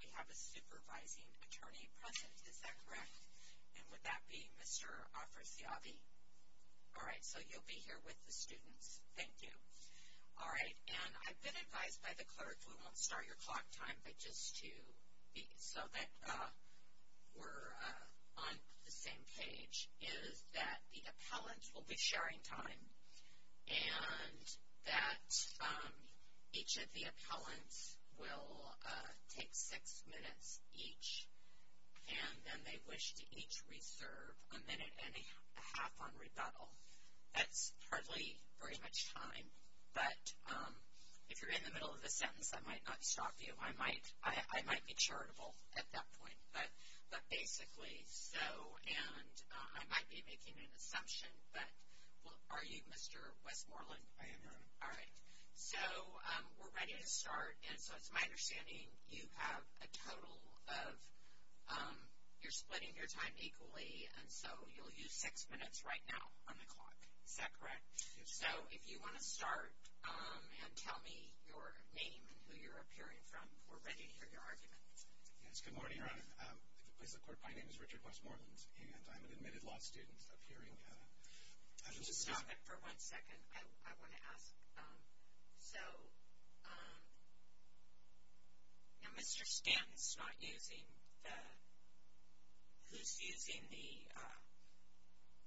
We have a supervising attorney present, is that correct? And would that be Mr. Afrasiabi? All right, so you'll be here with the students. Thank you. All right, and I've been advised by the clerk, we won't start your clock time, but just to be so that we're on the same page, is that the appellant will be sharing time, and that each of the appellants will take six minutes each, and then they wish to each reserve a minute and a half on rebuttal. That's hardly very much time, but if you're in the middle of the sentence, that might not stop you. I might be charitable at that point, but basically so, and I might be making an assumption, but are you Mr. Westmoreland? I am. All right, so we're ready to start, and so it's my understanding you have a total of, you're splitting your time equally, and so you'll use six minutes right now on the clock, is that correct? Yes. All right, so if you want to start and tell me your name and who you're appearing from, we're ready to hear your argument. Yes, good morning, Your Honor. If it pleases the court, my name is Richard Westmoreland, and I'm an admitted law student appearing. Can you stop it for one second? I want to ask, so Mr. Stanton's not using the, who's using the?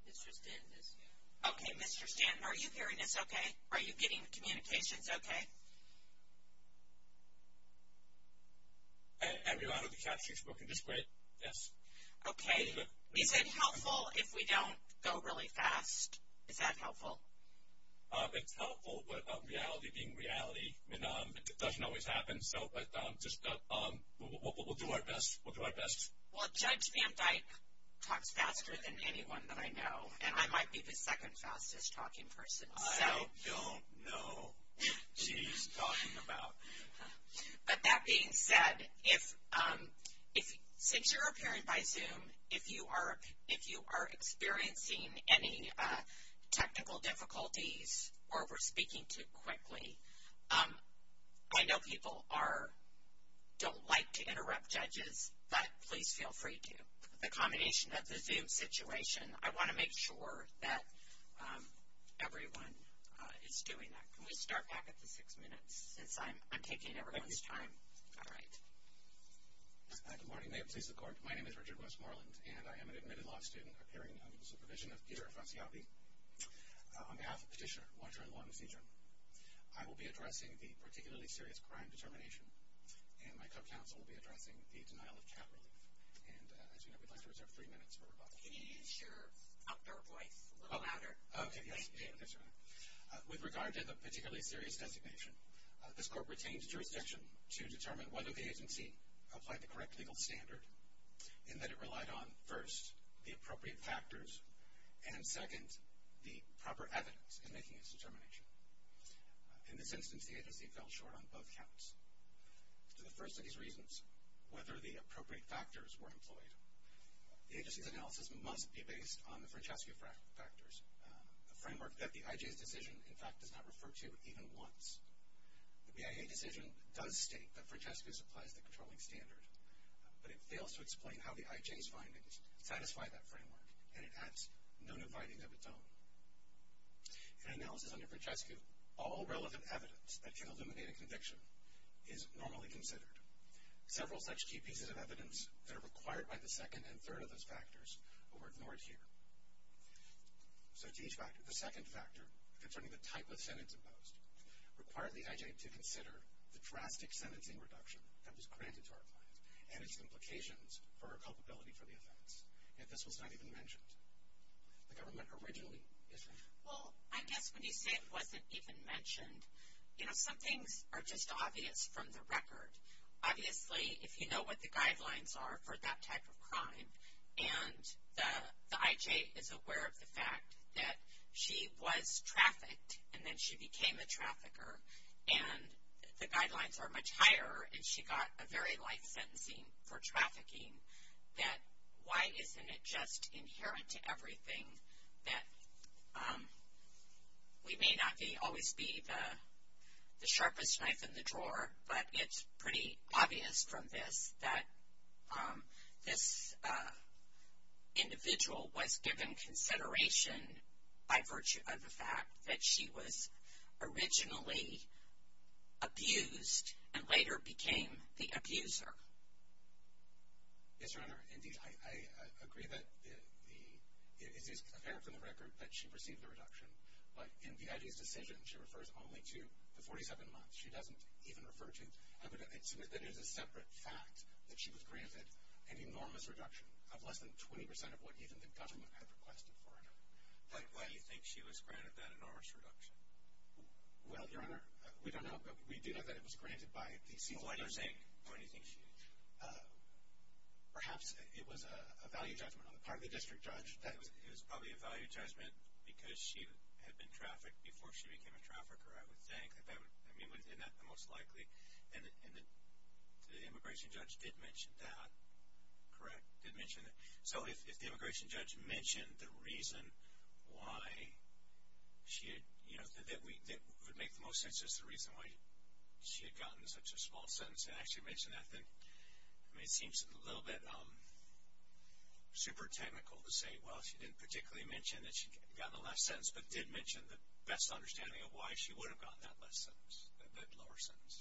Mr. Stanton is here. Okay, Mr. Stanton, are you hearing us okay? Are you getting the communications okay? Every line of the caption is working just great, yes. Okay, is it helpful if we don't go really fast? Is that helpful? It's helpful, but reality being reality, it doesn't always happen, so we'll do our best. Well, Judge Van Dyke talks faster than anyone that I know, and I might be the second fastest talking person. I don't know what she's talking about. But that being said, since you're appearing by Zoom, if you are experiencing any technical difficulties or we're speaking too quickly, I know people don't like to interrupt judges, but please feel free to. The combination of the Zoom situation, I want to make sure that everyone is doing that. Can we start back at the six minutes since I'm taking everyone's time? All right. Good morning. If it pleases the court, my name is Richard Westmoreland, and I am an admitted law student appearing under the supervision of Peter Afasiabi. On behalf of Petitioner, Watcher, and Law and Seizure, I will be addressing the particularly serious crime determination, and my co-counsel will be addressing the denial of cat relief. And as you know, we'd like to reserve three minutes for rebuttal. Can you use your outdoor voice a little louder? Okay, yes. With regard to the particularly serious designation, this court retained jurisdiction to determine whether the agency applied the correct legal standard in that it relied on, first, the appropriate factors, and second, the proper evidence in making its determination. In this instance, the agency fell short on both counts. To the first of these reasons, whether the appropriate factors were employed, the agency's analysis must be based on the Francesco factors, a framework that the IJ's decision, in fact, does not refer to even once. The BIA decision does state that Francesco supplies the controlling standard, but it fails to explain how the IJ's findings satisfy that framework, and it adds no new findings of its own. In analysis under Francesco, all relevant evidence that can eliminate a conviction is normally considered. Several such key pieces of evidence that are required by the second and third of those factors were ignored here. So to each factor, the second factor concerning the type of sentence imposed required the IJ to consider the drastic sentencing reduction that was granted to our client and its implications for her culpability for the offense, yet this was not even mentioned. The government originally issued... Well, I guess when you say it wasn't even mentioned, you know, some things are just obvious from the record. Obviously, if you know what the guidelines are for that type of crime and the IJ is aware of the fact that she was trafficked and then she became a trafficker and the guidelines are much higher and she got a very light sentencing for trafficking, then why isn't it just inherent to everything that... We may not always be the sharpest knife in the drawer, but it's pretty obvious from this that this individual was given consideration by virtue of the fact that she was originally abused and later became the abuser. Yes, Your Honor. Indeed, I agree that it is apparent from the record that she received the reduction, but in the IJ's decision, she refers only to the 47 months. She doesn't even refer to... I would submit that it is a separate fact that she was granted an enormous reduction of less than 20% of what even the government had requested for her. Why do you think she was granted that enormous reduction? Well, Your Honor, we don't know. We do know that it was granted by the... Why do you think she... Perhaps it was a value judgment on the part of the district judge. It was probably a value judgment because she had been trafficked before she became a trafficker, I would think. I mean, within that, the most likely. And the immigration judge did mention that. Correct? Did mention that. So if the immigration judge mentioned the reason why she had... that would make the most sense as to the reason why she had gotten such a small sentence and actually mentioned that, then it seems a little bit super technical to say, well, she didn't particularly mention that she had gotten a less sentence, but did mention the best understanding of why she would have gotten that less sentence, that lower sentence.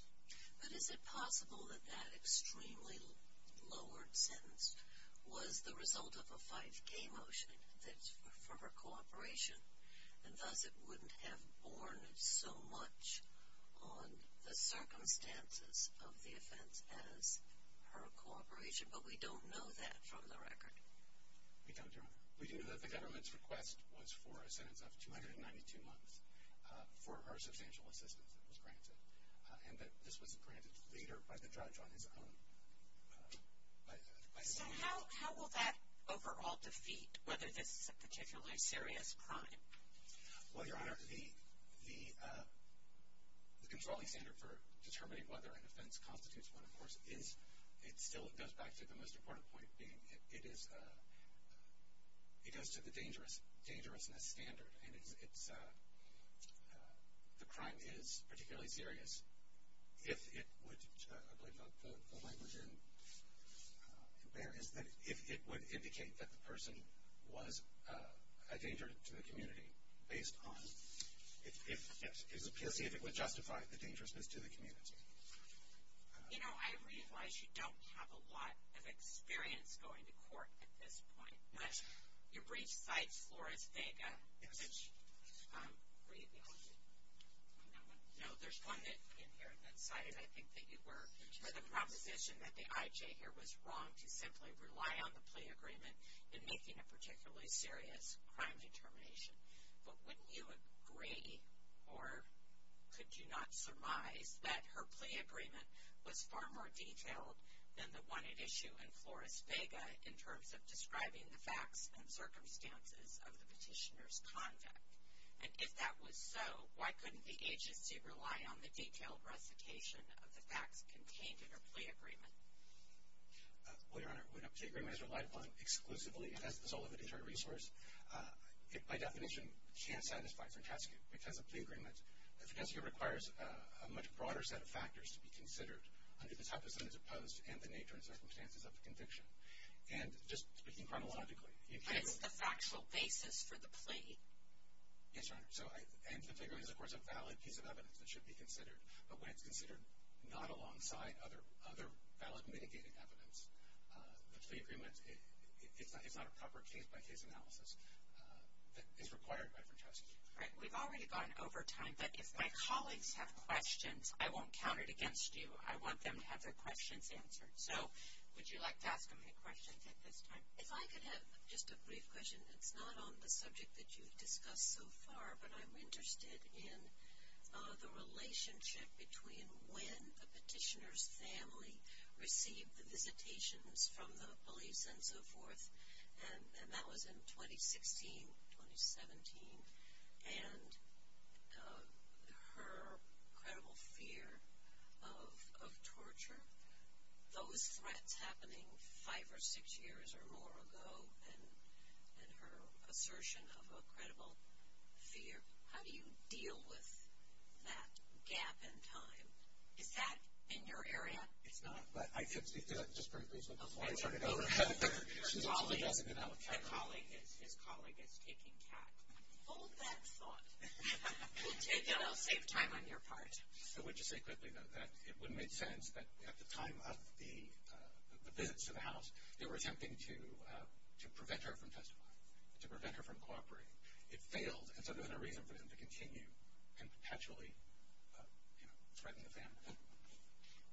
But is it possible that that extremely lowered sentence was the result of a 5K motion that's for her cooperation and thus it wouldn't have borne so much on the circumstances of the offense as her cooperation, but we don't know that from the record. We don't, Your Honor. We do know that the government's request was for a sentence of 292 months for her substantial assistance that was granted, and that this was granted later by the judge on his own. So how will that overall defeat whether this is a particularly serious crime? Well, Your Honor, the controlling standard for determining whether an offense constitutes one, of course, it still goes back to the most important point being it goes to the dangerousness standard, and the crime is particularly serious if it would, I believe the language in there is that if it would indicate that the person was a danger to the community based on, it is a PLC if it would justify the dangerousness to the community. You know, I realize you don't have a lot of experience going to court at this point, but you briefed sites Flores Vega and such. No, there's one in here that cited, I think, that you were for the proposition that the IJ here was wrong to simply rely on the plea agreement in making a particularly serious crime determination. But wouldn't you agree, or could you not surmise, that her plea agreement was far more detailed than the one at issue in Flores Vega in terms of describing the facts and circumstances of the petitioner's conduct? And if that was so, why couldn't the agency rely on the detailed recitation of the facts contained in her plea agreement? Well, Your Honor, when a plea agreement is relied upon exclusively as the sole of an internal resource, it, by definition, can't satisfy Frentescue because a plea agreement, Frentescue requires a much broader set of factors to be considered under the type of sentence imposed and the nature and circumstances of the conviction. And just speaking chronologically, you can't... But it's the factual basis for the plea. Yes, Your Honor. And the plea agreement is, of course, a valid piece of evidence that should be considered. But when it's considered not alongside other valid mitigating evidence, the plea agreement is not a proper case-by-case analysis that is required by Frentescue. We've already gone over time, but if my colleagues have questions, I won't count it against you. I want them to have their questions answered. So would you like to ask them any questions at this time? If I could have just a brief question. It's not on the subject that you've discussed so far, but I'm interested in the relationship between when the petitioner's family received the visitations from the police and so forth, and that was in 2016, 2017, and her credible fear of torture, those threats happening five or six years or more ago, and her assertion of a credible fear. How do you deal with that gap in time? Is that in your area? It's not, but I could speak to that just briefly before I turn it over. Okay. Your colleague, his colleague is taking cap. Hold that thought. We'll take it. I'll save time on your part. I would just say quickly, though, that it would make sense that at the time of the visits to the house, they were attempting to prevent her from testifying, to prevent her from cooperating. It failed, and so there's no reason for them to continue and potentially threaten the family.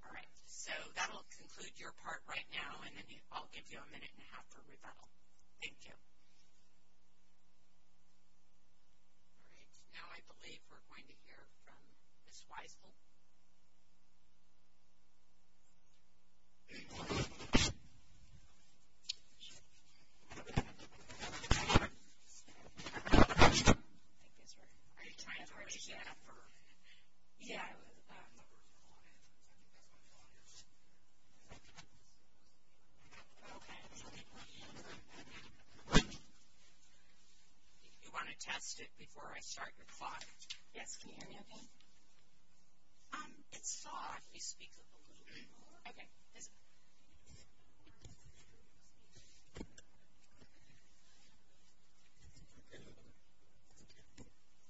All right. So that will conclude your part right now, and then I'll give you a minute and a half for rebuttal. Thank you. All right. Now I believe we're going to hear from Ms. Weissel. I think it's her. Are you trying to participate? You want to test it before I start your thought? Yes. Can you hear me okay? It's soft. You speak a little bit more. Okay. Is it?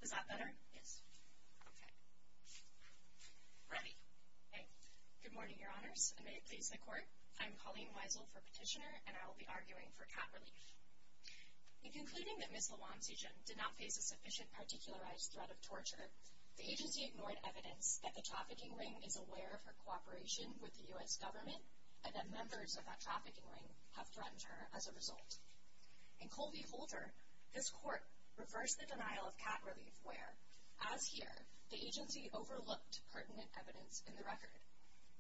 Is that better? Yes. Okay. Ready. Okay. Good morning, Your Honors, and may it please the Court. I'm Colleen Weissel for Petitioner, and I will be arguing for cap relief. In concluding that Ms. Lawansi-Jen did not face a sufficient particularized threat of torture, the agency ignored evidence that the trafficking ring is aware of her cooperation with the U.S. government and that members of that trafficking ring have threatened her as a result. In Colby-Holter, this Court reversed the denial of cap relief where, as here, the agency overlooked pertinent evidence in the record.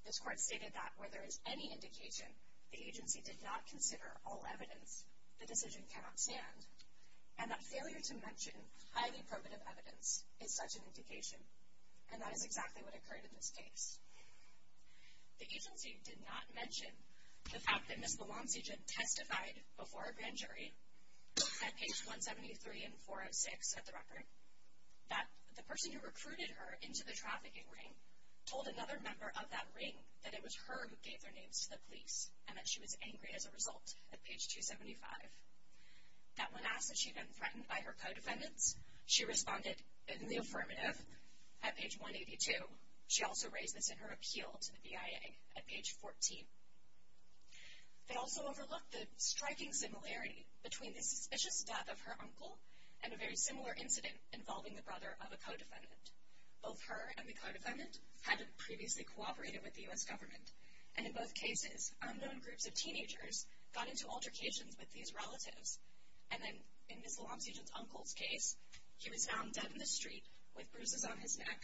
This Court stated that where there is any indication the agency did not consider all evidence, the decision cannot stand, and that failure to mention highly probative evidence is such an indication, and that is exactly what occurred in this case. The agency did not mention the fact that Ms. Lawansi-Jen testified before a grand jury at page 173 and 406 of the record, that the person who recruited her into the trafficking ring told another member of that ring that it was her who gave their names to the police and that she was angry as a result at page 275. That when asked that she had been threatened by her co-defendants, she responded in the affirmative at page 182. She also raised this in her appeal to the BIA at page 14. They also overlooked the striking similarity between the suspicious death of her uncle and a very similar incident involving the brother of a co-defendant. Both her and the co-defendant had previously cooperated with the U.S. government, and in both cases, unknown groups of teenagers got into altercations with these relatives, and then in Ms. Lawansi-Jen's uncle's case, he was found dead in the street with bruises on his neck,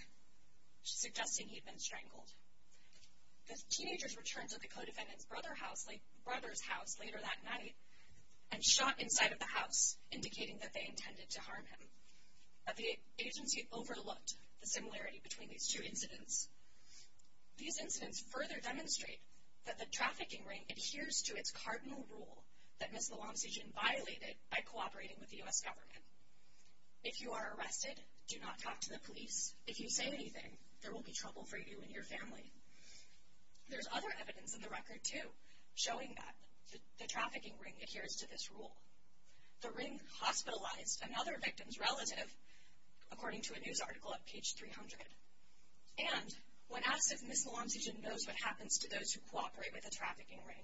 suggesting he'd been strangled. The teenagers returned to the co-defendant's brother's house later that night and shot inside of the house, indicating that they intended to harm him. The agency overlooked the similarity between these two incidents. These incidents further demonstrate that the trafficking ring adheres to its cardinal rule that Ms. Lawansi-Jen violated by cooperating with the U.S. government. If you are arrested, do not talk to the police. If you say anything, there will be trouble for you and your family. There's other evidence in the record, too, showing that the trafficking ring adheres to this rule. The ring hospitalized another victim's relative, according to a news article at page 300, and when asked if Ms. Lawansi-Jen knows what happens to those who cooperate with the trafficking ring,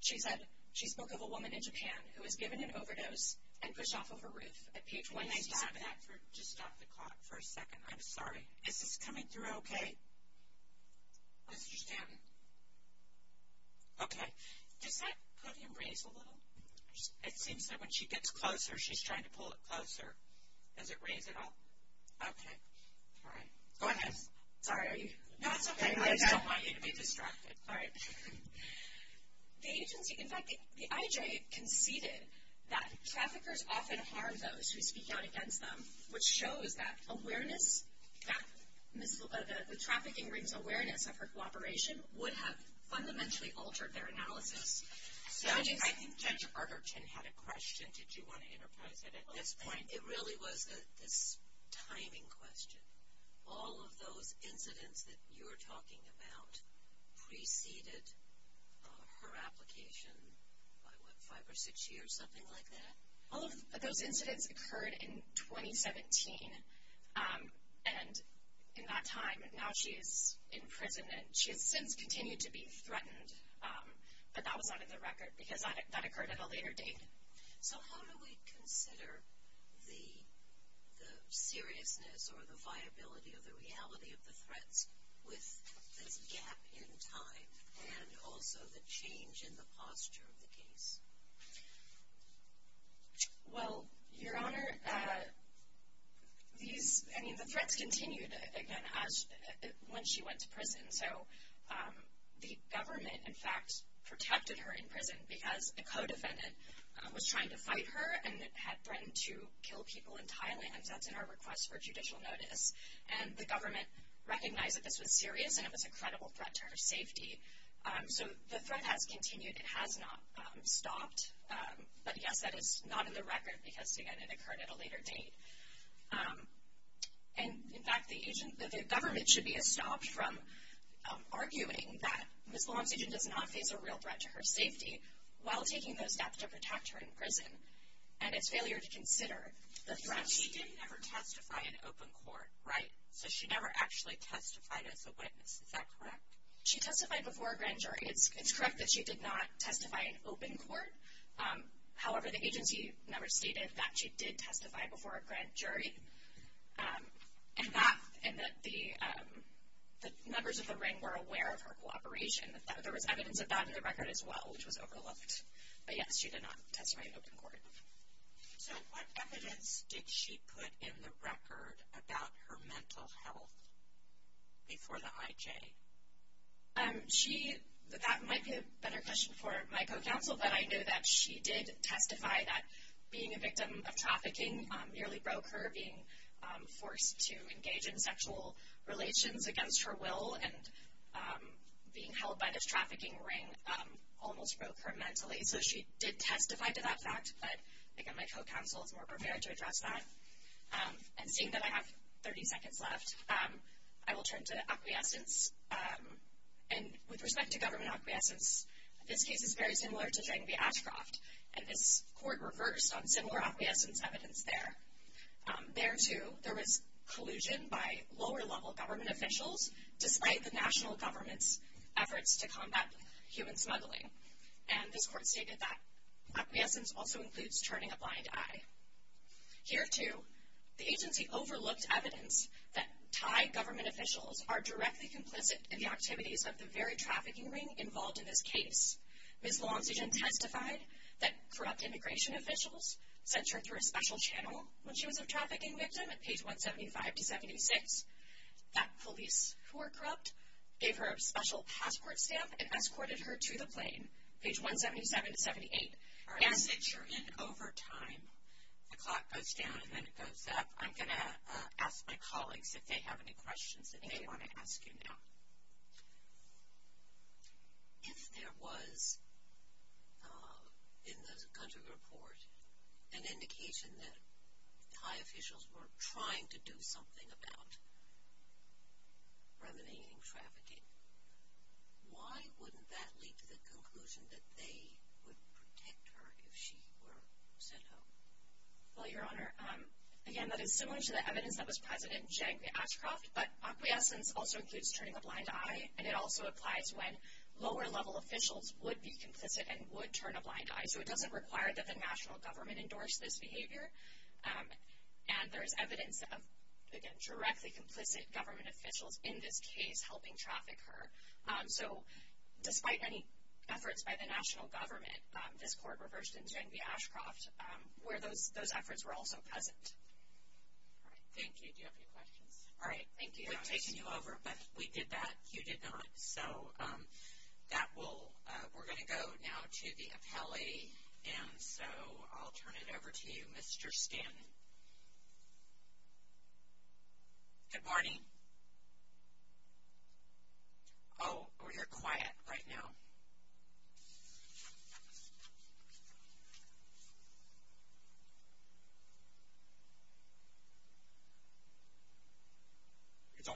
she said she spoke of a woman in Japan who was given an overdose and pushed off of her roof at page 197. Can I stop that for just off the clock for a second? I'm sorry. Is this coming through okay? I understand. Okay. Does that podium raise a little? It seems that when she gets closer, she's trying to pull it closer. Does it raise at all? Okay. All right. Go ahead. Sorry. No, it's okay. I just don't want you to be distracted. All right. In fact, the IJ conceded that traffickers often harm those who speak out against them, which shows that the trafficking ring's awareness of her cooperation would have fundamentally altered their analysis. I think Judge Arterton had a question. Did you want to interpose it at this point? It really was this timing question. All of those incidents that you're talking about preceded her application by, what, five or six years, something like that? All of those incidents occurred in 2017, and in that time, now she is in prison, and she has since continued to be threatened, but that was out of the record because that occurred at a later date. So how do we consider the seriousness or the viability or the reality of the threats with this gap in time and also the change in the posture of the case? Well, Your Honor, the threats continued, again, when she went to prison. So the government, in fact, protected her in prison because a co-defendant was trying to fight her and had threatened to kill people in Thailand. That's in our request for judicial notice. And the government recognized that this was serious and it was a credible threat to her safety. So the threat has continued. It has not stopped. But, yes, that is not in the record because, again, it occurred at a later date. And, in fact, the government should be estopped from arguing that Ms. Lamont's agent does not face a real threat to her safety while taking those steps to protect her in prison. And it's failure to consider the threat. But she did never testify in open court, right? So she never actually testified as a witness. Is that correct? She testified before a grand jury. It's correct that she did not testify in open court. However, the agency never stated that she did testify before a grand jury and that the members of the ring were aware of her cooperation. There was evidence of that in the record as well, which was overlooked. But, yes, she did not testify in open court. So what evidence did she put in the record about her mental health before the IJ? That might be a better question for my co-counsel, but I know that she did testify that being a victim of trafficking nearly broke her, being forced to engage in sexual relations against her will, and being held by this trafficking ring almost broke her mentally. So she did testify to that fact, but, again, my co-counsel is more prepared to address that. And seeing that I have 30 seconds left, I will turn to acquiescence. And with respect to government acquiescence, this case is very similar to Drang v. Ashcroft, and this court reversed on similar acquiescence evidence there. There, too, there was collusion by lower-level government officials, despite the national government's efforts to combat human smuggling. And this court stated that acquiescence also includes turning a blind eye. Here, too, the agency overlooked evidence that Thai government officials are directly complicit in the activities of the very trafficking ring involved in this case. Ms. Luangsujan testified that corrupt immigration officials sent her through a special channel when she was a trafficking victim at page 175-76, that police who were corrupt gave her a special passport stamp and escorted her to the plane, page 177-78. As you're in overtime, the clock goes down and then it goes up. I'm going to ask my colleagues if they have any questions that they want to ask you now. If there was in the country report an indication that Thai officials were trying to do something that was about remediating trafficking, why wouldn't that lead to the conclusion that they would protect her if she were sent home? Well, Your Honor, again, that is similar to the evidence that was presented in Jagme Ashcroft, but acquiescence also includes turning a blind eye, and it also applies when lower-level officials would be complicit and would turn a blind eye. So it doesn't require that the national government endorse this behavior, and there is evidence of, again, directly complicit government officials in this case helping traffic her. So despite many efforts by the national government, this court reversed in Jagme Ashcroft where those efforts were also present. All right. Thank you. Do you have any questions? All right. Thank you, Your Honor. We've taken you over, but we did that. You did not. So we're going to go now to the appellee, and so I'll turn it over to you, Mr. Stanton. Good morning. Oh, you're quiet right now.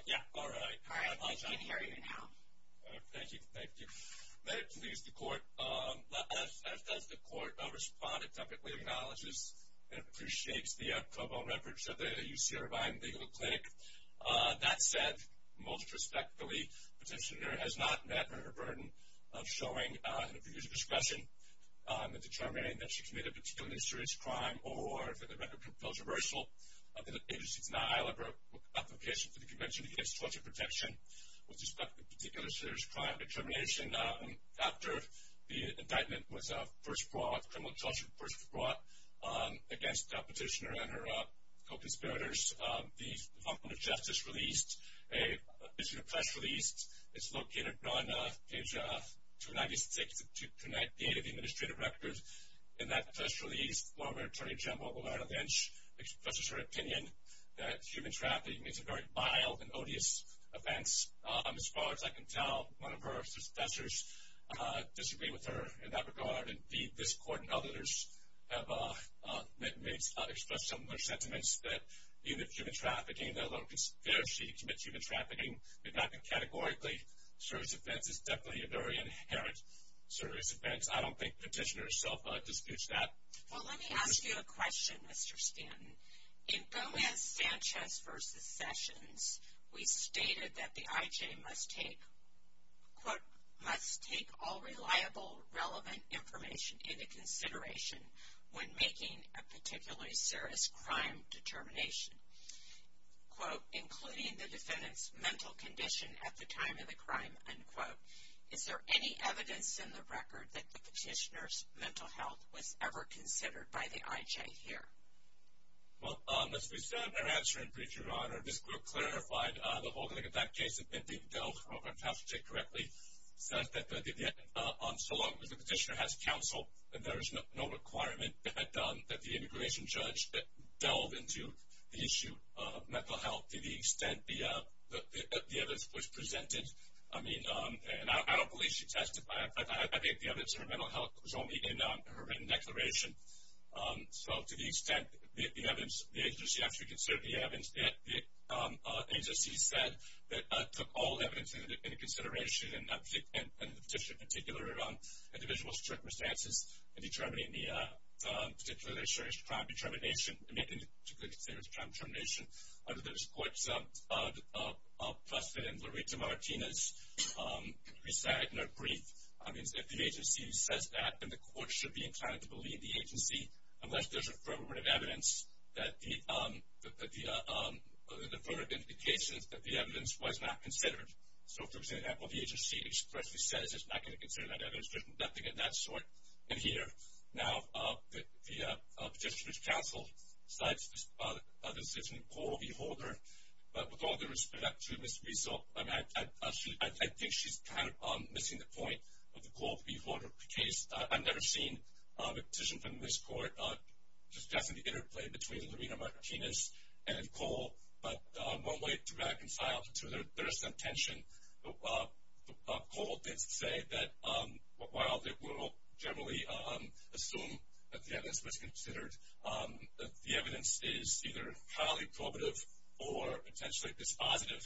Yeah. All right. All right. I can hear you now. Thank you. Thank you. Let it please the Court. As does the Court, a respondent typically acknowledges and appreciates the co-bond efforts of the UC Irvine Legal Clinic. That said, most respectfully, the petitioner has not met her burden of showing an abuse of discretion in determining that she committed a particular insurance crime or for the record of controversial agency denial of her application for the Convention Against Torture Protection with respect to a particular serious crime determination. After the indictment was first brought, criminal torture was first brought, against the petitioner and her co-conspirators, the Department of Justice released an additional press release. It's located on page 296 of 298 of the administrative record. In that press release, former Attorney General Roberta Lynch expresses her opinion that human trafficking is a very mild and odious offense. As far as I can tell, one of her successors disagreed with her in that regard. Indeed, this Court and others have expressed similar sentiments that even human trafficking, that although it's fair that she commits human trafficking, it's not categorically a serious offense. It's definitely a very inherent serious offense. I don't think the petitioner herself disputes that. Well, let me ask you a question, Mr. Stanton. In Gomez-Sanchez v. Sessions, we stated that the IJ must take, quote, must take all reliable, relevant information into consideration when making a particularly serious crime determination, quote, including the defendant's mental condition at the time of the crime, unquote. Is there any evidence in the record that the petitioner's mental health was ever considered by the IJ here? Well, as we said in our answer in brief, Your Honor, this Court clarified the whole thing in that case, if I have to say correctly, says that so long as the petitioner has counsel, there is no requirement that the immigration judge delve into the issue of mental health to the extent the evidence was presented. I mean, and I don't believe she testified. I think the evidence of her mental health was only in her written declaration. So to the extent the agency actually considered the evidence, the agency said that it took all evidence into consideration in the petitioner's particular individual circumstances in determining the particularly serious crime determination, in making the particularly serious crime determination. Under this Court's precedent, Loretta Martinez resigned in her brief. I mean, if the agency says that, then the Court should be inclined to believe the agency unless there's affirmative evidence that the evidence was not considered. So, for example, if the agency expressly says it's not going to consider that evidence, there's nothing of that sort in here. Now, the petitioner's counsel cites the decision of Cole v. Holder. But with all due respect to Ms. Riesel, I think she's kind of missing the point of the Cole v. Holder case. I've never seen a petition from this Court discussing the interplay between Loretta Martinez and Cole. But one way to reconcile the two, there is some tension. Cole did say that while they will generally assume that the evidence was considered, that the evidence is either highly probative or potentially dispositive,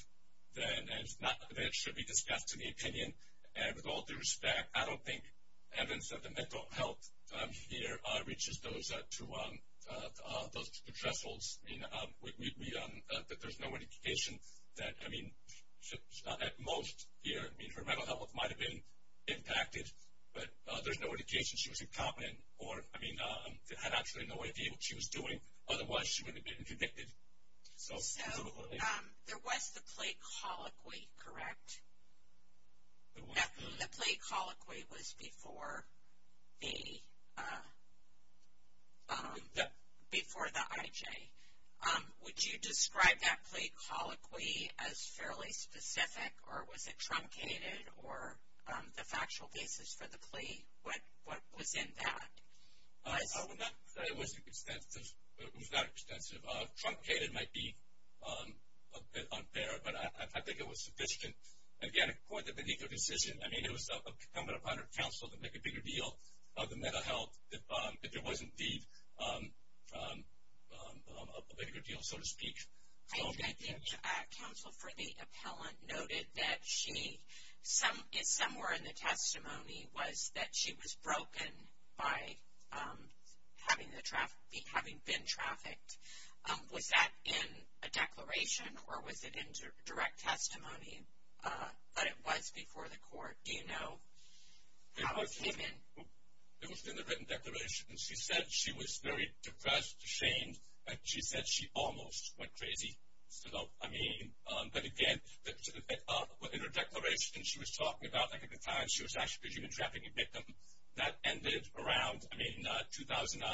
that it should be discussed in the opinion. And with all due respect, I don't think evidence of the mental health here reaches those two thresholds. I mean, that there's no indication that, I mean, at most here, her mental health might have been impacted, but there's no indication she was incompetent or, I mean, had absolutely no idea what she was doing. Otherwise, she would have been convicted. So there was the plea colloquy, correct? The plea colloquy was before the IJ. Would you describe that plea colloquy as fairly specific or was it truncated or the factual basis for the plea, what was in that? It was not extensive. Truncated might be a bit unfair, but I think it was sufficient. Again, according to the legal decision, I mean, it was incumbent upon her counsel to make a bigger deal of the mental health if there was indeed a bigger deal, so to speak. I think counsel for the appellant noted that she, somewhere in the testimony, was that she was broken by having been trafficked. Was that in a declaration or was it in direct testimony? But it was before the court. Do you know how it came in? It was in the written declaration. She said she was very depressed, ashamed, and she said she almost went crazy. But, again, in her declaration she was talking about, I think at the time she was actually a human trafficking victim. That ended around 2009, 2010.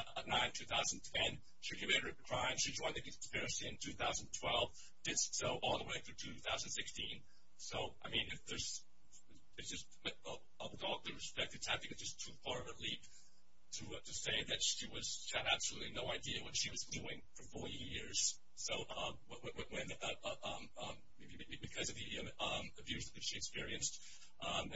She committed a crime. She joined the conspiracy in 2012, did so all the way through 2016. So, I mean, with all due respect, it's, I think, just too far of a leap to say that she had absolutely no idea what she was doing for 40 years. So, because of the abuse that she experienced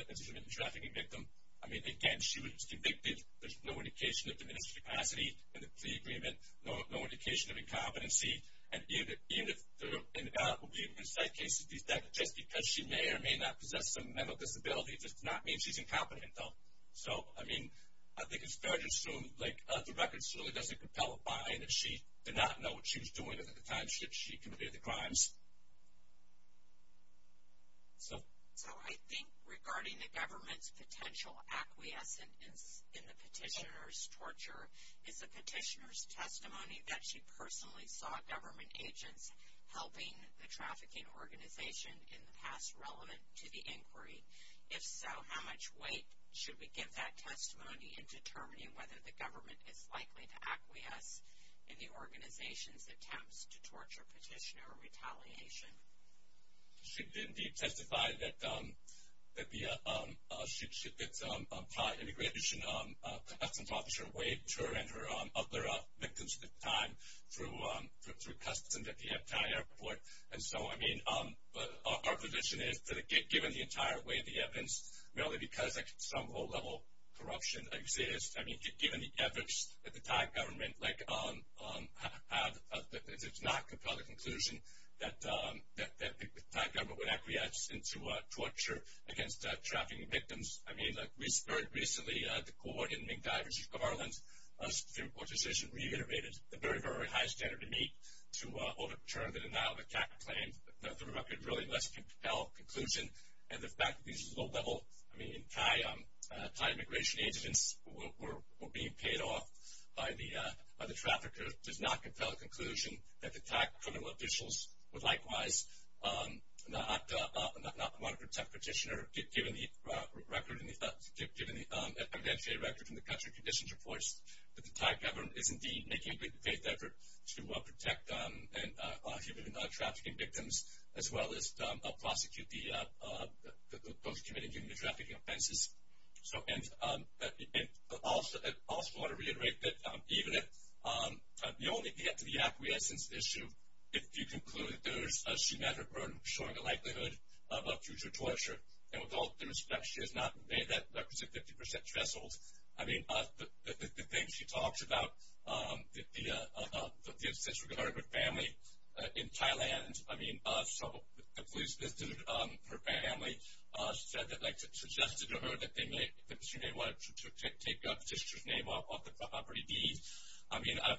as a human trafficking victim, I mean, again, she was convicted. There's no indication of diminished capacity in the plea agreement, no indication of incompetency. And even if there are, in doubt, we'll be able to cite cases. Just because she may or may not possess some mental disability does not mean she's incompetent, though. So, I mean, I think it's fair to assume, like, the records really doesn't compel a buy in if she did not know what she was doing at the time that she committed the crimes. So. So, I think regarding the government's potential acquiescence in the petitioner's torture, is the petitioner's testimony that she personally saw government agents helping the trafficking organization in the past relevant to the inquiry? If so, how much weight should we give that testimony in determining whether the government is likely to acquiesce in the organization's attempts to torture, petition, or retaliation? She did, indeed, testify that the pri-immigration customs officer waived her and her other victims at the time through customs at the Epcot airport. And so, I mean, our position is that given the entire weight of the evidence, merely because, like, some low-level corruption exists, I mean, given the efforts that the Thai government, like, did not compel the conclusion that the Thai government would acquiesce into torture against trafficking victims. I mean, like, very recently, the court in Ming Dai, Virginia, Ireland, a Supreme Court decision reiterated the very, very high standard to meet to overturn the denial of attack claim. The record really does compel conclusion. And the fact that these low-level, I mean, Thai immigration agents were being paid off by the traffickers does not compel the conclusion that the Thai criminal officials would likewise not want to protect petitioners. Given the record, given the evidentiary record from the country conditions reports, that the Thai government is, indeed, making a great effort to protect human trafficking victims, as well as prosecute those committing human trafficking offenses. So, and I also want to reiterate that even if you only get to the acquiescence issue, if you conclude there's a symmetric burden showing a likelihood of future torture, and with all due respect, she has not made that 50% threshold. I mean, the things she talks about, the instance regarding her family in Thailand, I mean, so the police visited her family. She said that, like, suggested to her that they may, that she may want to take a petitioner's name off the property deed. I mean, I've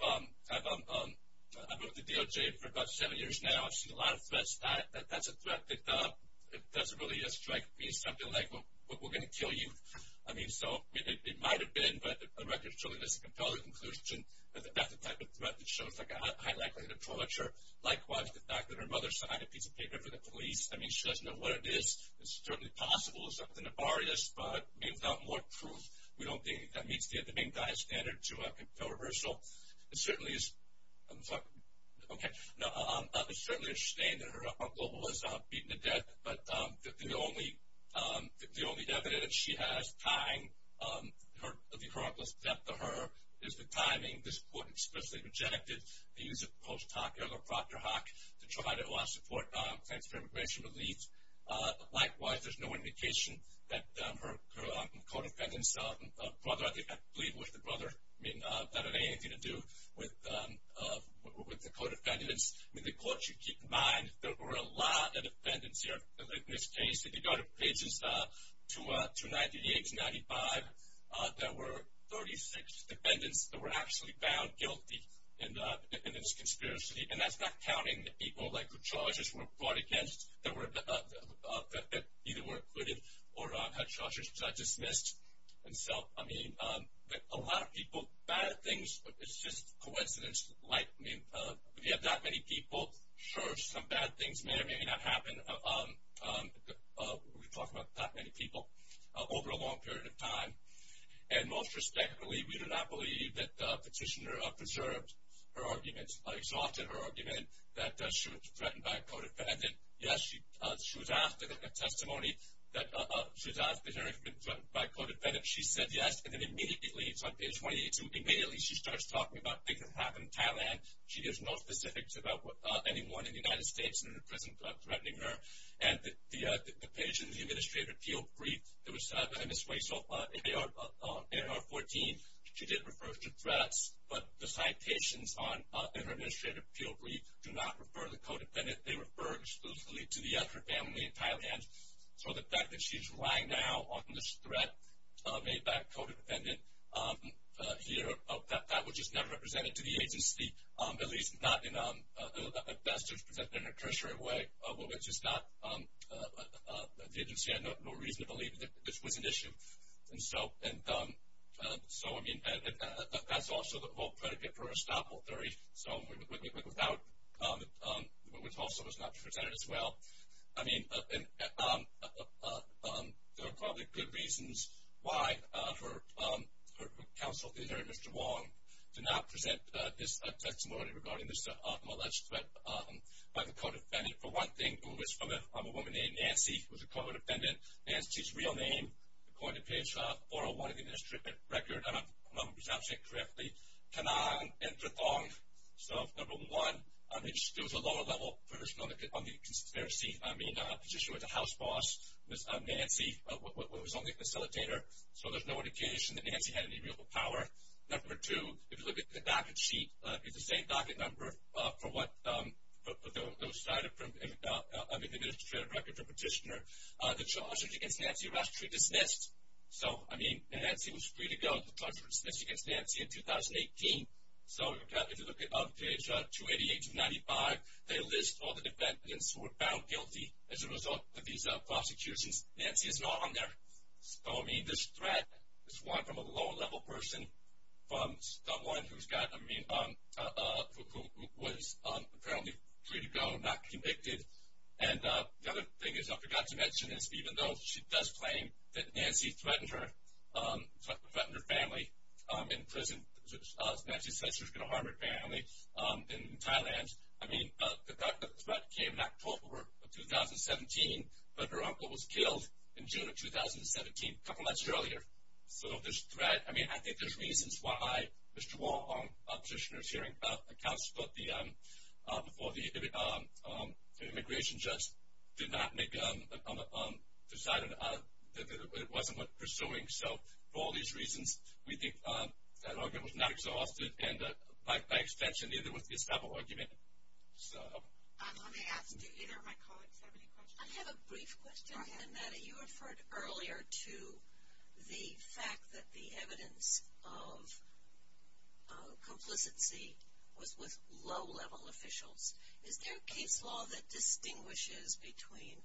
worked at DOJ for about seven years now. I've seen a lot of threats. That's a threat that doesn't really strike me as something like, well, we're going to kill you. I mean, so it might have been, but the record truly does compel the conclusion that that's the type of threat that shows a high likelihood of torture. Likewise, the fact that her mother signed a piece of paper for the police, I mean, she doesn't know what it is. It's certainly possible it's something to bar this, but, I mean, without more proof, we don't think that meets the main diet standard to kill her. So it certainly is, I'm sorry. Okay. No, I certainly understand that her uncle was beaten to death, but the only evidence she has tying the chronicle's death to her is the timing. This court especially rejected the use of the post hoc error, Proctor-Hock, to try to support claims for immigration relief. Likewise, there's no indication that her co-defendants' brother, I believe it was the brother, I mean, that it had anything to do with the co-defendants. I mean, the court should keep in mind there were a lot of defendants here in this case. If you go to pages 298 to 295, there were 36 defendants that were actually found guilty in this conspiracy, and that's not counting the people, like, who charges were brought against, that either were acquitted or had charges dismissed. And so, I mean, a lot of people, bad things, it's just coincidence. Like, I mean, if you have that many people, sure, some bad things may or may not happen. But we're talking about that many people over a long period of time. And most respectfully, we do not believe that the petitioner preserved her argument, exhausted her argument that she was threatened by a co-defendant. Yes, she was asked in a testimony that she was asked if she had been threatened by a co-defendant. She said yes, and then immediately, it's on page 282, immediately she starts talking about things that happened in Thailand. She gives no specifics about anyone in the United States in the prison threatening her. And the page in the Administrative Appeal Brief that was sent out by Ms. Weissel in AR-14, she did refer to threats, but the citations in her Administrative Appeal Brief do not refer to the co-defendant. They refer exclusively to her family in Thailand. So the fact that she's relying now on this threat made by a co-defendant here, that was just never presented to the agency, at least not in a best or tertiary way, which is not the agency had no reason to believe that this was an issue. And so, I mean, that's also the whole predicate for her stop-all theory. So without, which also was not presented as well. I mean, there are probably good reasons why her counsel, Mr. Wong, did not present this testimony regarding this alleged threat by the co-defendant. For one thing, it was from a woman named Nancy, who was a co-defendant. Nancy's real name, according to page 401 of the Administrative Record, I don't know if I'm pronouncing it correctly, Kanang Indratong. So number one, it was a lower-level person on the conspiracy. I mean, the petitioner was a house boss. Nancy was on the facilitator. So there's no indication that Nancy had any real power. Number two, if you look at the docket sheet, it's the same docket number for what was cited from the Administrative Record for petitioner. The charges against Nancy were actually dismissed. So, I mean, Nancy was free to go. The charges were dismissed against Nancy in 2018. So if you look at page 288 to 295, they list all the defendants who were found guilty as a result of these prosecutions. Nancy is not on there. So, I mean, this threat is one from a lower-level person, from someone who was apparently free to go, not convicted. And the other thing is I forgot to mention is even though she does claim that Nancy threatened her family in prison, Nancy says she was going to harm her family in Thailand, I mean, the threat came in October of 2017, but her uncle was killed in June of 2017, a couple months earlier. So this threat, I mean, I think there's reasons why Mr. Wong, the petitioner's hearing counsel for the immigration judge, did not make a decision that it wasn't worth pursuing. So for all these reasons, we think that argument was not exhausted, and by extension, neither was this double argument. Let me ask, do either of my colleagues have any questions? I have a brief question. Go ahead. You referred earlier to the fact that the evidence of complicity was with low-level officials. Is there a case law that distinguishes between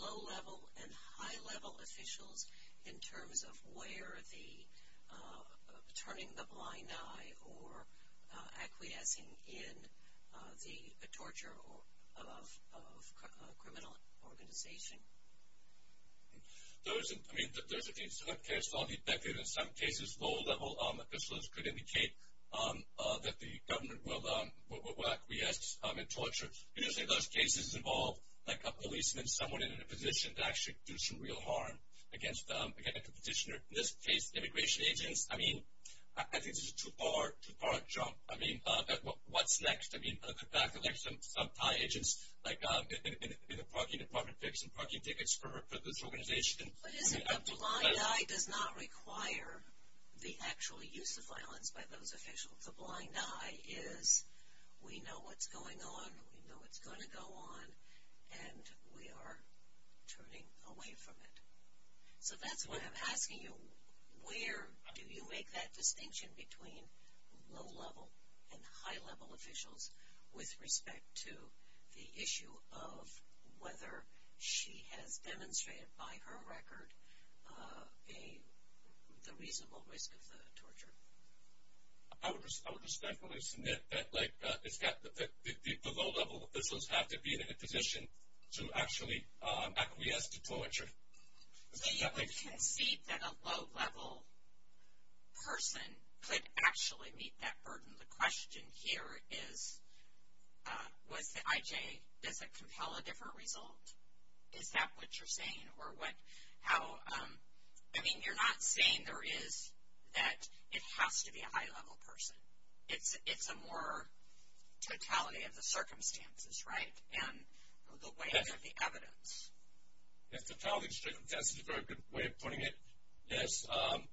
low-level and high-level officials in terms of where the turning the blind eye or acquiescing in the torture of a criminal organization? I mean, there's a case law that in some cases low-level officials could indicate that the government will acquiesce in torture. Usually those cases involve a policeman, someone in a position to actually do some real harm against the petitioner. In this case, immigration agents, I mean, I think this is too far a jump. I mean, what's next? I mean, the fact that some Thai agents in the parking department pick some parking tickets for this organization. What is it? The blind eye does not require the actual use of violence by those officials. The blind eye is we know what's going on, we know what's going to go on, and we are turning away from it. So that's what I'm asking you. Where do you make that distinction between low-level and high-level officials with respect to the issue of whether she has demonstrated, by her record, the reasonable risk of the torture? I would respectfully submit that the low-level officials have to be in a position to actually acquiesce to torture. So you would concede that a low-level person could actually meet that burden. The question here is, was the IJ, does it compel a different result? Is that what you're saying? I mean, you're not saying there is that it has to be a high-level person. It's a more totality of the circumstances, right, and the ways of the evidence. Yes, totality of circumstances is a very good way of putting it. Yes,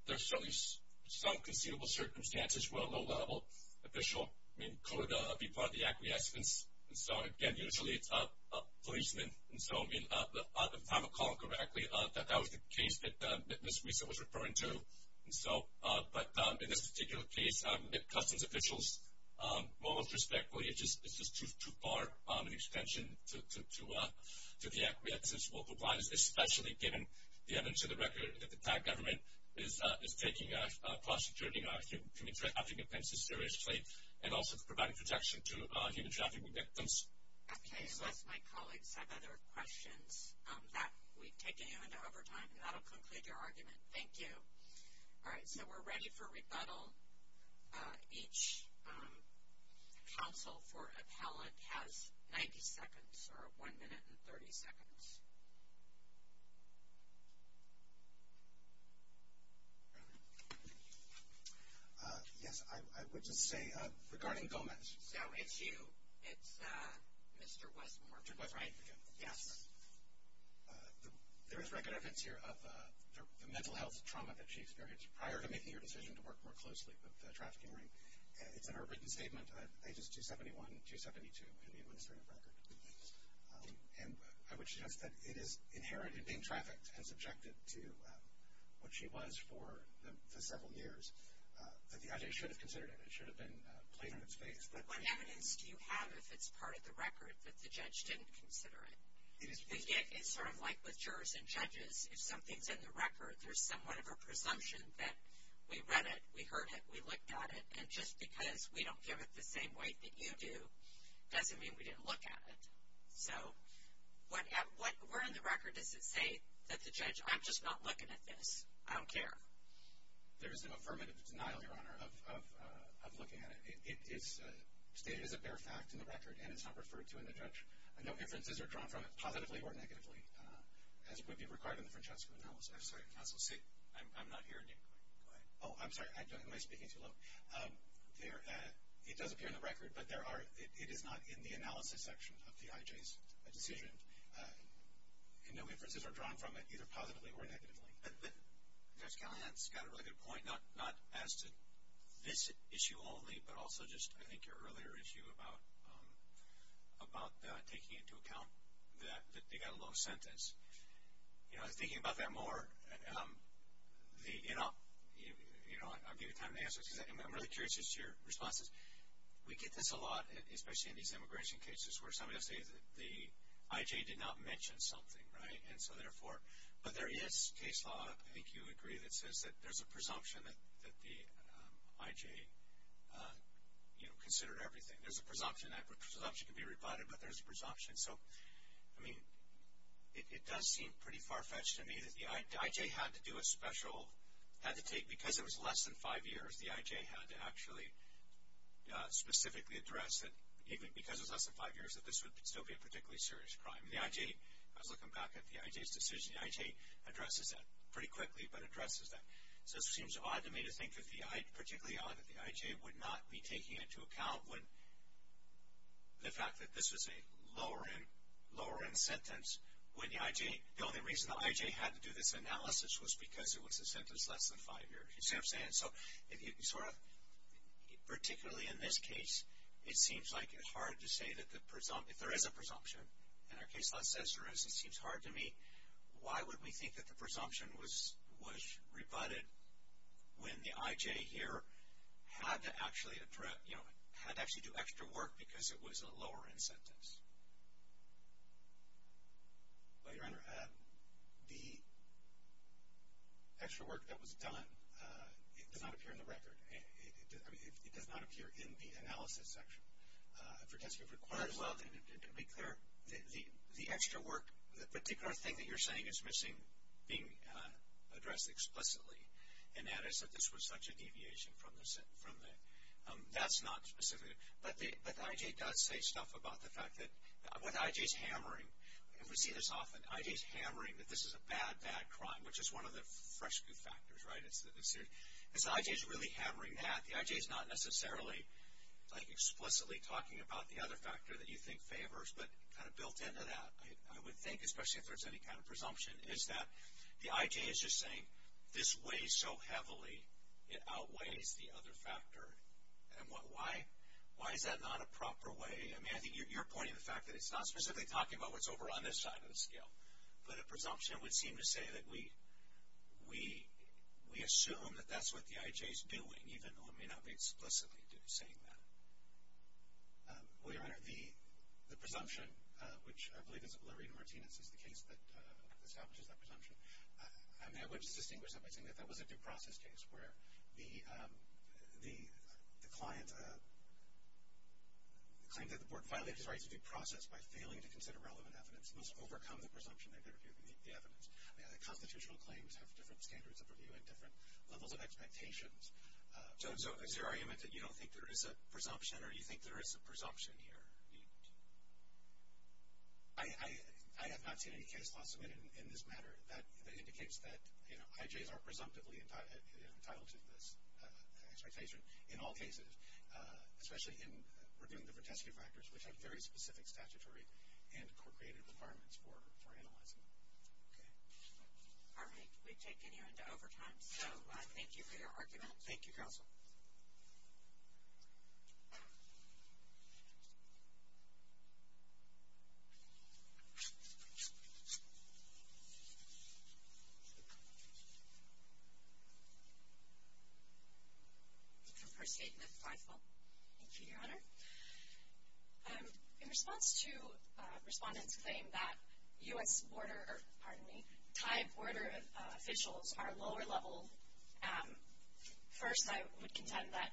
there's certainly some conceivable circumstances where a low-level official could be part of the acquiescence. And so, again, usually it's a policeman. And so, I mean, if I recall correctly, that was the case that Ms. Risa was referring to. But in this particular case, customs officials, most respectfully, it's just too far an extension to the acquiescence. Okay, unless my colleagues have other questions. We've taken you into overtime, and that will conclude your argument. Thank you. All right, so we're ready for rebuttal. Each counsel for appellant has 90 seconds, or one minute and 30 seconds. Yes, I would just say, regarding Gomez. So it's you. It's Mr. Westmore, right? Mr. Westmore, yes. There is recognizance here of the mental health trauma that she experienced prior to making your decision to work more closely. It's in her written statement, pages 271 and 272 in the administrative record. And I would suggest that it is inherent in being trafficked and subjected to what she was for several years. But the object should have considered it. It should have been played on its face. What evidence do you have, if it's part of the record, that the judge didn't consider it? It's sort of like with jurors and judges. If something's in the record, there's somewhat of a presumption that we read it, we heard it, we looked at it. And just because we don't give it the same weight that you do doesn't mean we didn't look at it. So where in the record does it say that the judge, I'm just not looking at this, I don't care? There is an affirmative denial, Your Honor, of looking at it. It is stated as a bare fact in the record, and it's not referred to in the judge. No inferences are drawn from it, positively or negatively, as would be required in the Francesco analysis. I'm sorry. I'm not hearing you. Go ahead. Oh, I'm sorry. Am I speaking too low? It does appear in the record, but it is not in the analysis section of the IJ's decision. And no inferences are drawn from it, either positively or negatively. Judge Callahan's got a really good point, not as to this issue only, but also just I think your earlier issue about taking into account that they got a low sentence. You know, I was thinking about that more. And I'll give you time to answer this, because I'm really curious as to your responses. We get this a lot, especially in these immigration cases, where somebody will say that the IJ did not mention something, right? And so, therefore, but there is case law, I think you agree, that says that there's a presumption that the IJ, you know, considered everything. There's a presumption, and that presumption can be rebutted, but there's a presumption. So, I mean, it does seem pretty far-fetched to me that the IJ had to do a special, had to take, because it was less than five years, the IJ had to actually specifically address that, even because it was less than five years, that this would still be a particularly serious crime. And the IJ, I was looking back at the IJ's decision, the IJ addresses that pretty quickly, but addresses that, so it seems odd to me to think that the I, particularly odd that the IJ would not be taking into account when, the fact that this was a lower-end, lower-end sentence, when the IJ, the only reason the IJ had to do this analysis was because it was a sentence less than five years. You see what I'm saying? So, if you sort of, particularly in this case, it seems like it's hard to say that the, if there is a presumption, and our case law says there is, it seems hard to me, why would we think that the presumption was rebutted when the IJ here had to actually address, you know, had to actually do extra work because it was a lower-end sentence? Well, Your Honor, the extra work that was done, it does not appear in the record. I mean, it does not appear in the analysis section. Well, to be clear, the extra work, the particular thing that you're saying is missing being addressed explicitly, and that is that this was such a deviation from the sentence. That's not specific. But the IJ does say stuff about the fact that what the IJ is hammering, and we see this often, the IJ is hammering that this is a bad, bad crime, which is one of the fresh good factors, right? The IJ is really hammering that. The IJ is not necessarily, like, explicitly talking about the other factor that you think favors, but kind of built into that, I would think, especially if there's any kind of presumption, is that the IJ is just saying this weighs so heavily, it outweighs the other factor. And why is that not a proper way? I mean, I think you're pointing to the fact that it's not specifically talking about what's over on this side of the scale, but a presumption would seem to say that we assume that that's what the IJ is doing, even though it may not be explicitly saying that. Well, Your Honor, the presumption, which I believe is that Lorena Martinez is the case that establishes that presumption, I mean, I would just distinguish that by saying that that was a due process case where the client claimed that the board violated his rights of due process by failing to consider relevant evidence and must overcome the presumption they've interviewed the evidence. I mean, the constitutional claims have different standards of review and different levels of expectations. So is there argument that you don't think there is a presumption, or do you think there is a presumption here? I have not seen any case law submitted in this matter that indicates that, you know, IJs are presumptively entitled to this expectation in all cases, especially in working with different testing factors, which have very specific statutory and court-created requirements for analyzing them. Okay. All right. We've taken you into overtime, so thank you for your argument. Thank you, Counsel. Thank you, Your Honor. In response to respondents' claim that U.S. border or, pardon me, Thai border officials are lower level, first, I would contend that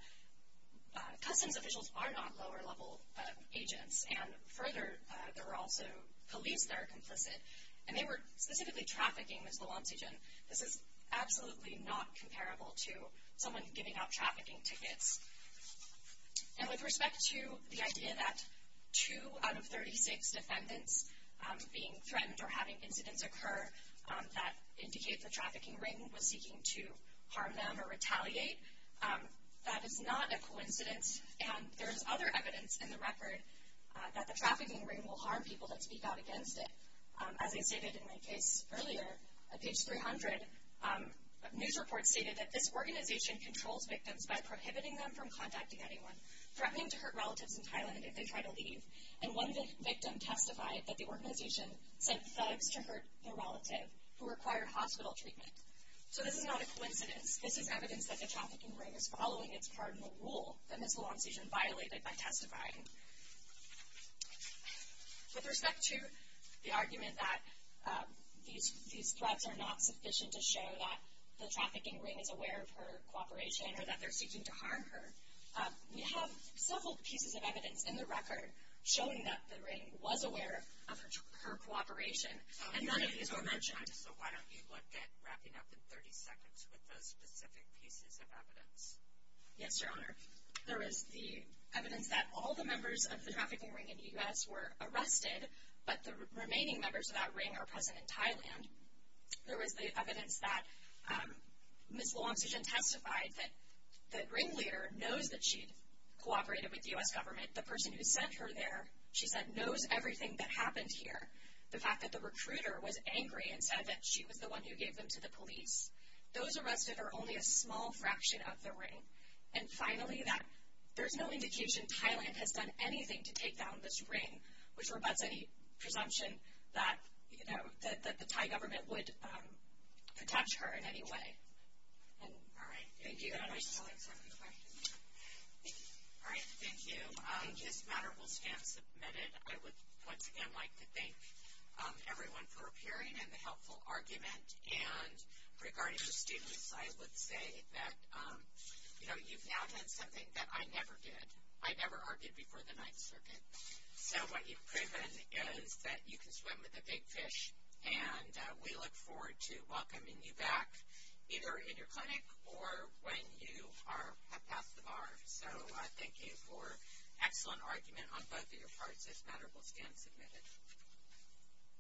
customs officials are not lower level agents, and further, there are also police that are complicit, and they were specifically trafficking Ms. Valancian. This is absolutely not comparable to someone giving out trafficking tickets. And with respect to the idea that two out of 36 defendants being threatened or having incidents occur that indicate the trafficking ring was seeking to harm them or retaliate, that is not a coincidence, and there is other evidence in the record that the trafficking ring will harm people that speak out against it. As I stated in my case earlier, a page 300 news report stated that this organization controls victims by prohibiting them from contacting anyone, threatening to hurt relatives in Thailand if they try to leave. And one victim testified that the organization sent thugs to hurt the relative who required hospital treatment. So this is not a coincidence. This is evidence that the trafficking ring is following its cardinal rule that Ms. Valancian violated by testifying. With respect to the argument that these threats are not sufficient to show that the trafficking ring is aware of her cooperation or that they're seeking to harm her, we have several pieces of evidence in the record showing that the ring was aware of her cooperation, and none of these were mentioned. So why don't you look at wrapping up in 30 seconds with those specific pieces of evidence? Yes, Your Honor. There is the evidence that all the members of the trafficking ring in the U.S. were arrested, and there was the evidence that Ms. Valancian testified that the ringleader knows that she cooperated with the U.S. government. The person who sent her there, she said, knows everything that happened here. The fact that the recruiter was angry and said that she was the one who gave them to the police. Those arrested are only a small fraction of the ring. And finally, that there's no indication Thailand has done anything to take down this ring, which rebuts any presumption that the Thai government would protect her in any way. All right. Thank you, Your Honor. All right, thank you. This matter will stand submitted. I would once again like to thank everyone for appearing and the helpful argument. And regarding the statements, I would say that you've now done something that I never did. I never argued before the Ninth Circuit. So what you've proven is that you can swim with a big fish, and we look forward to welcoming you back either in your clinic or when you have passed the bar. So thank you for an excellent argument on both of your parts. This matter will stand submitted.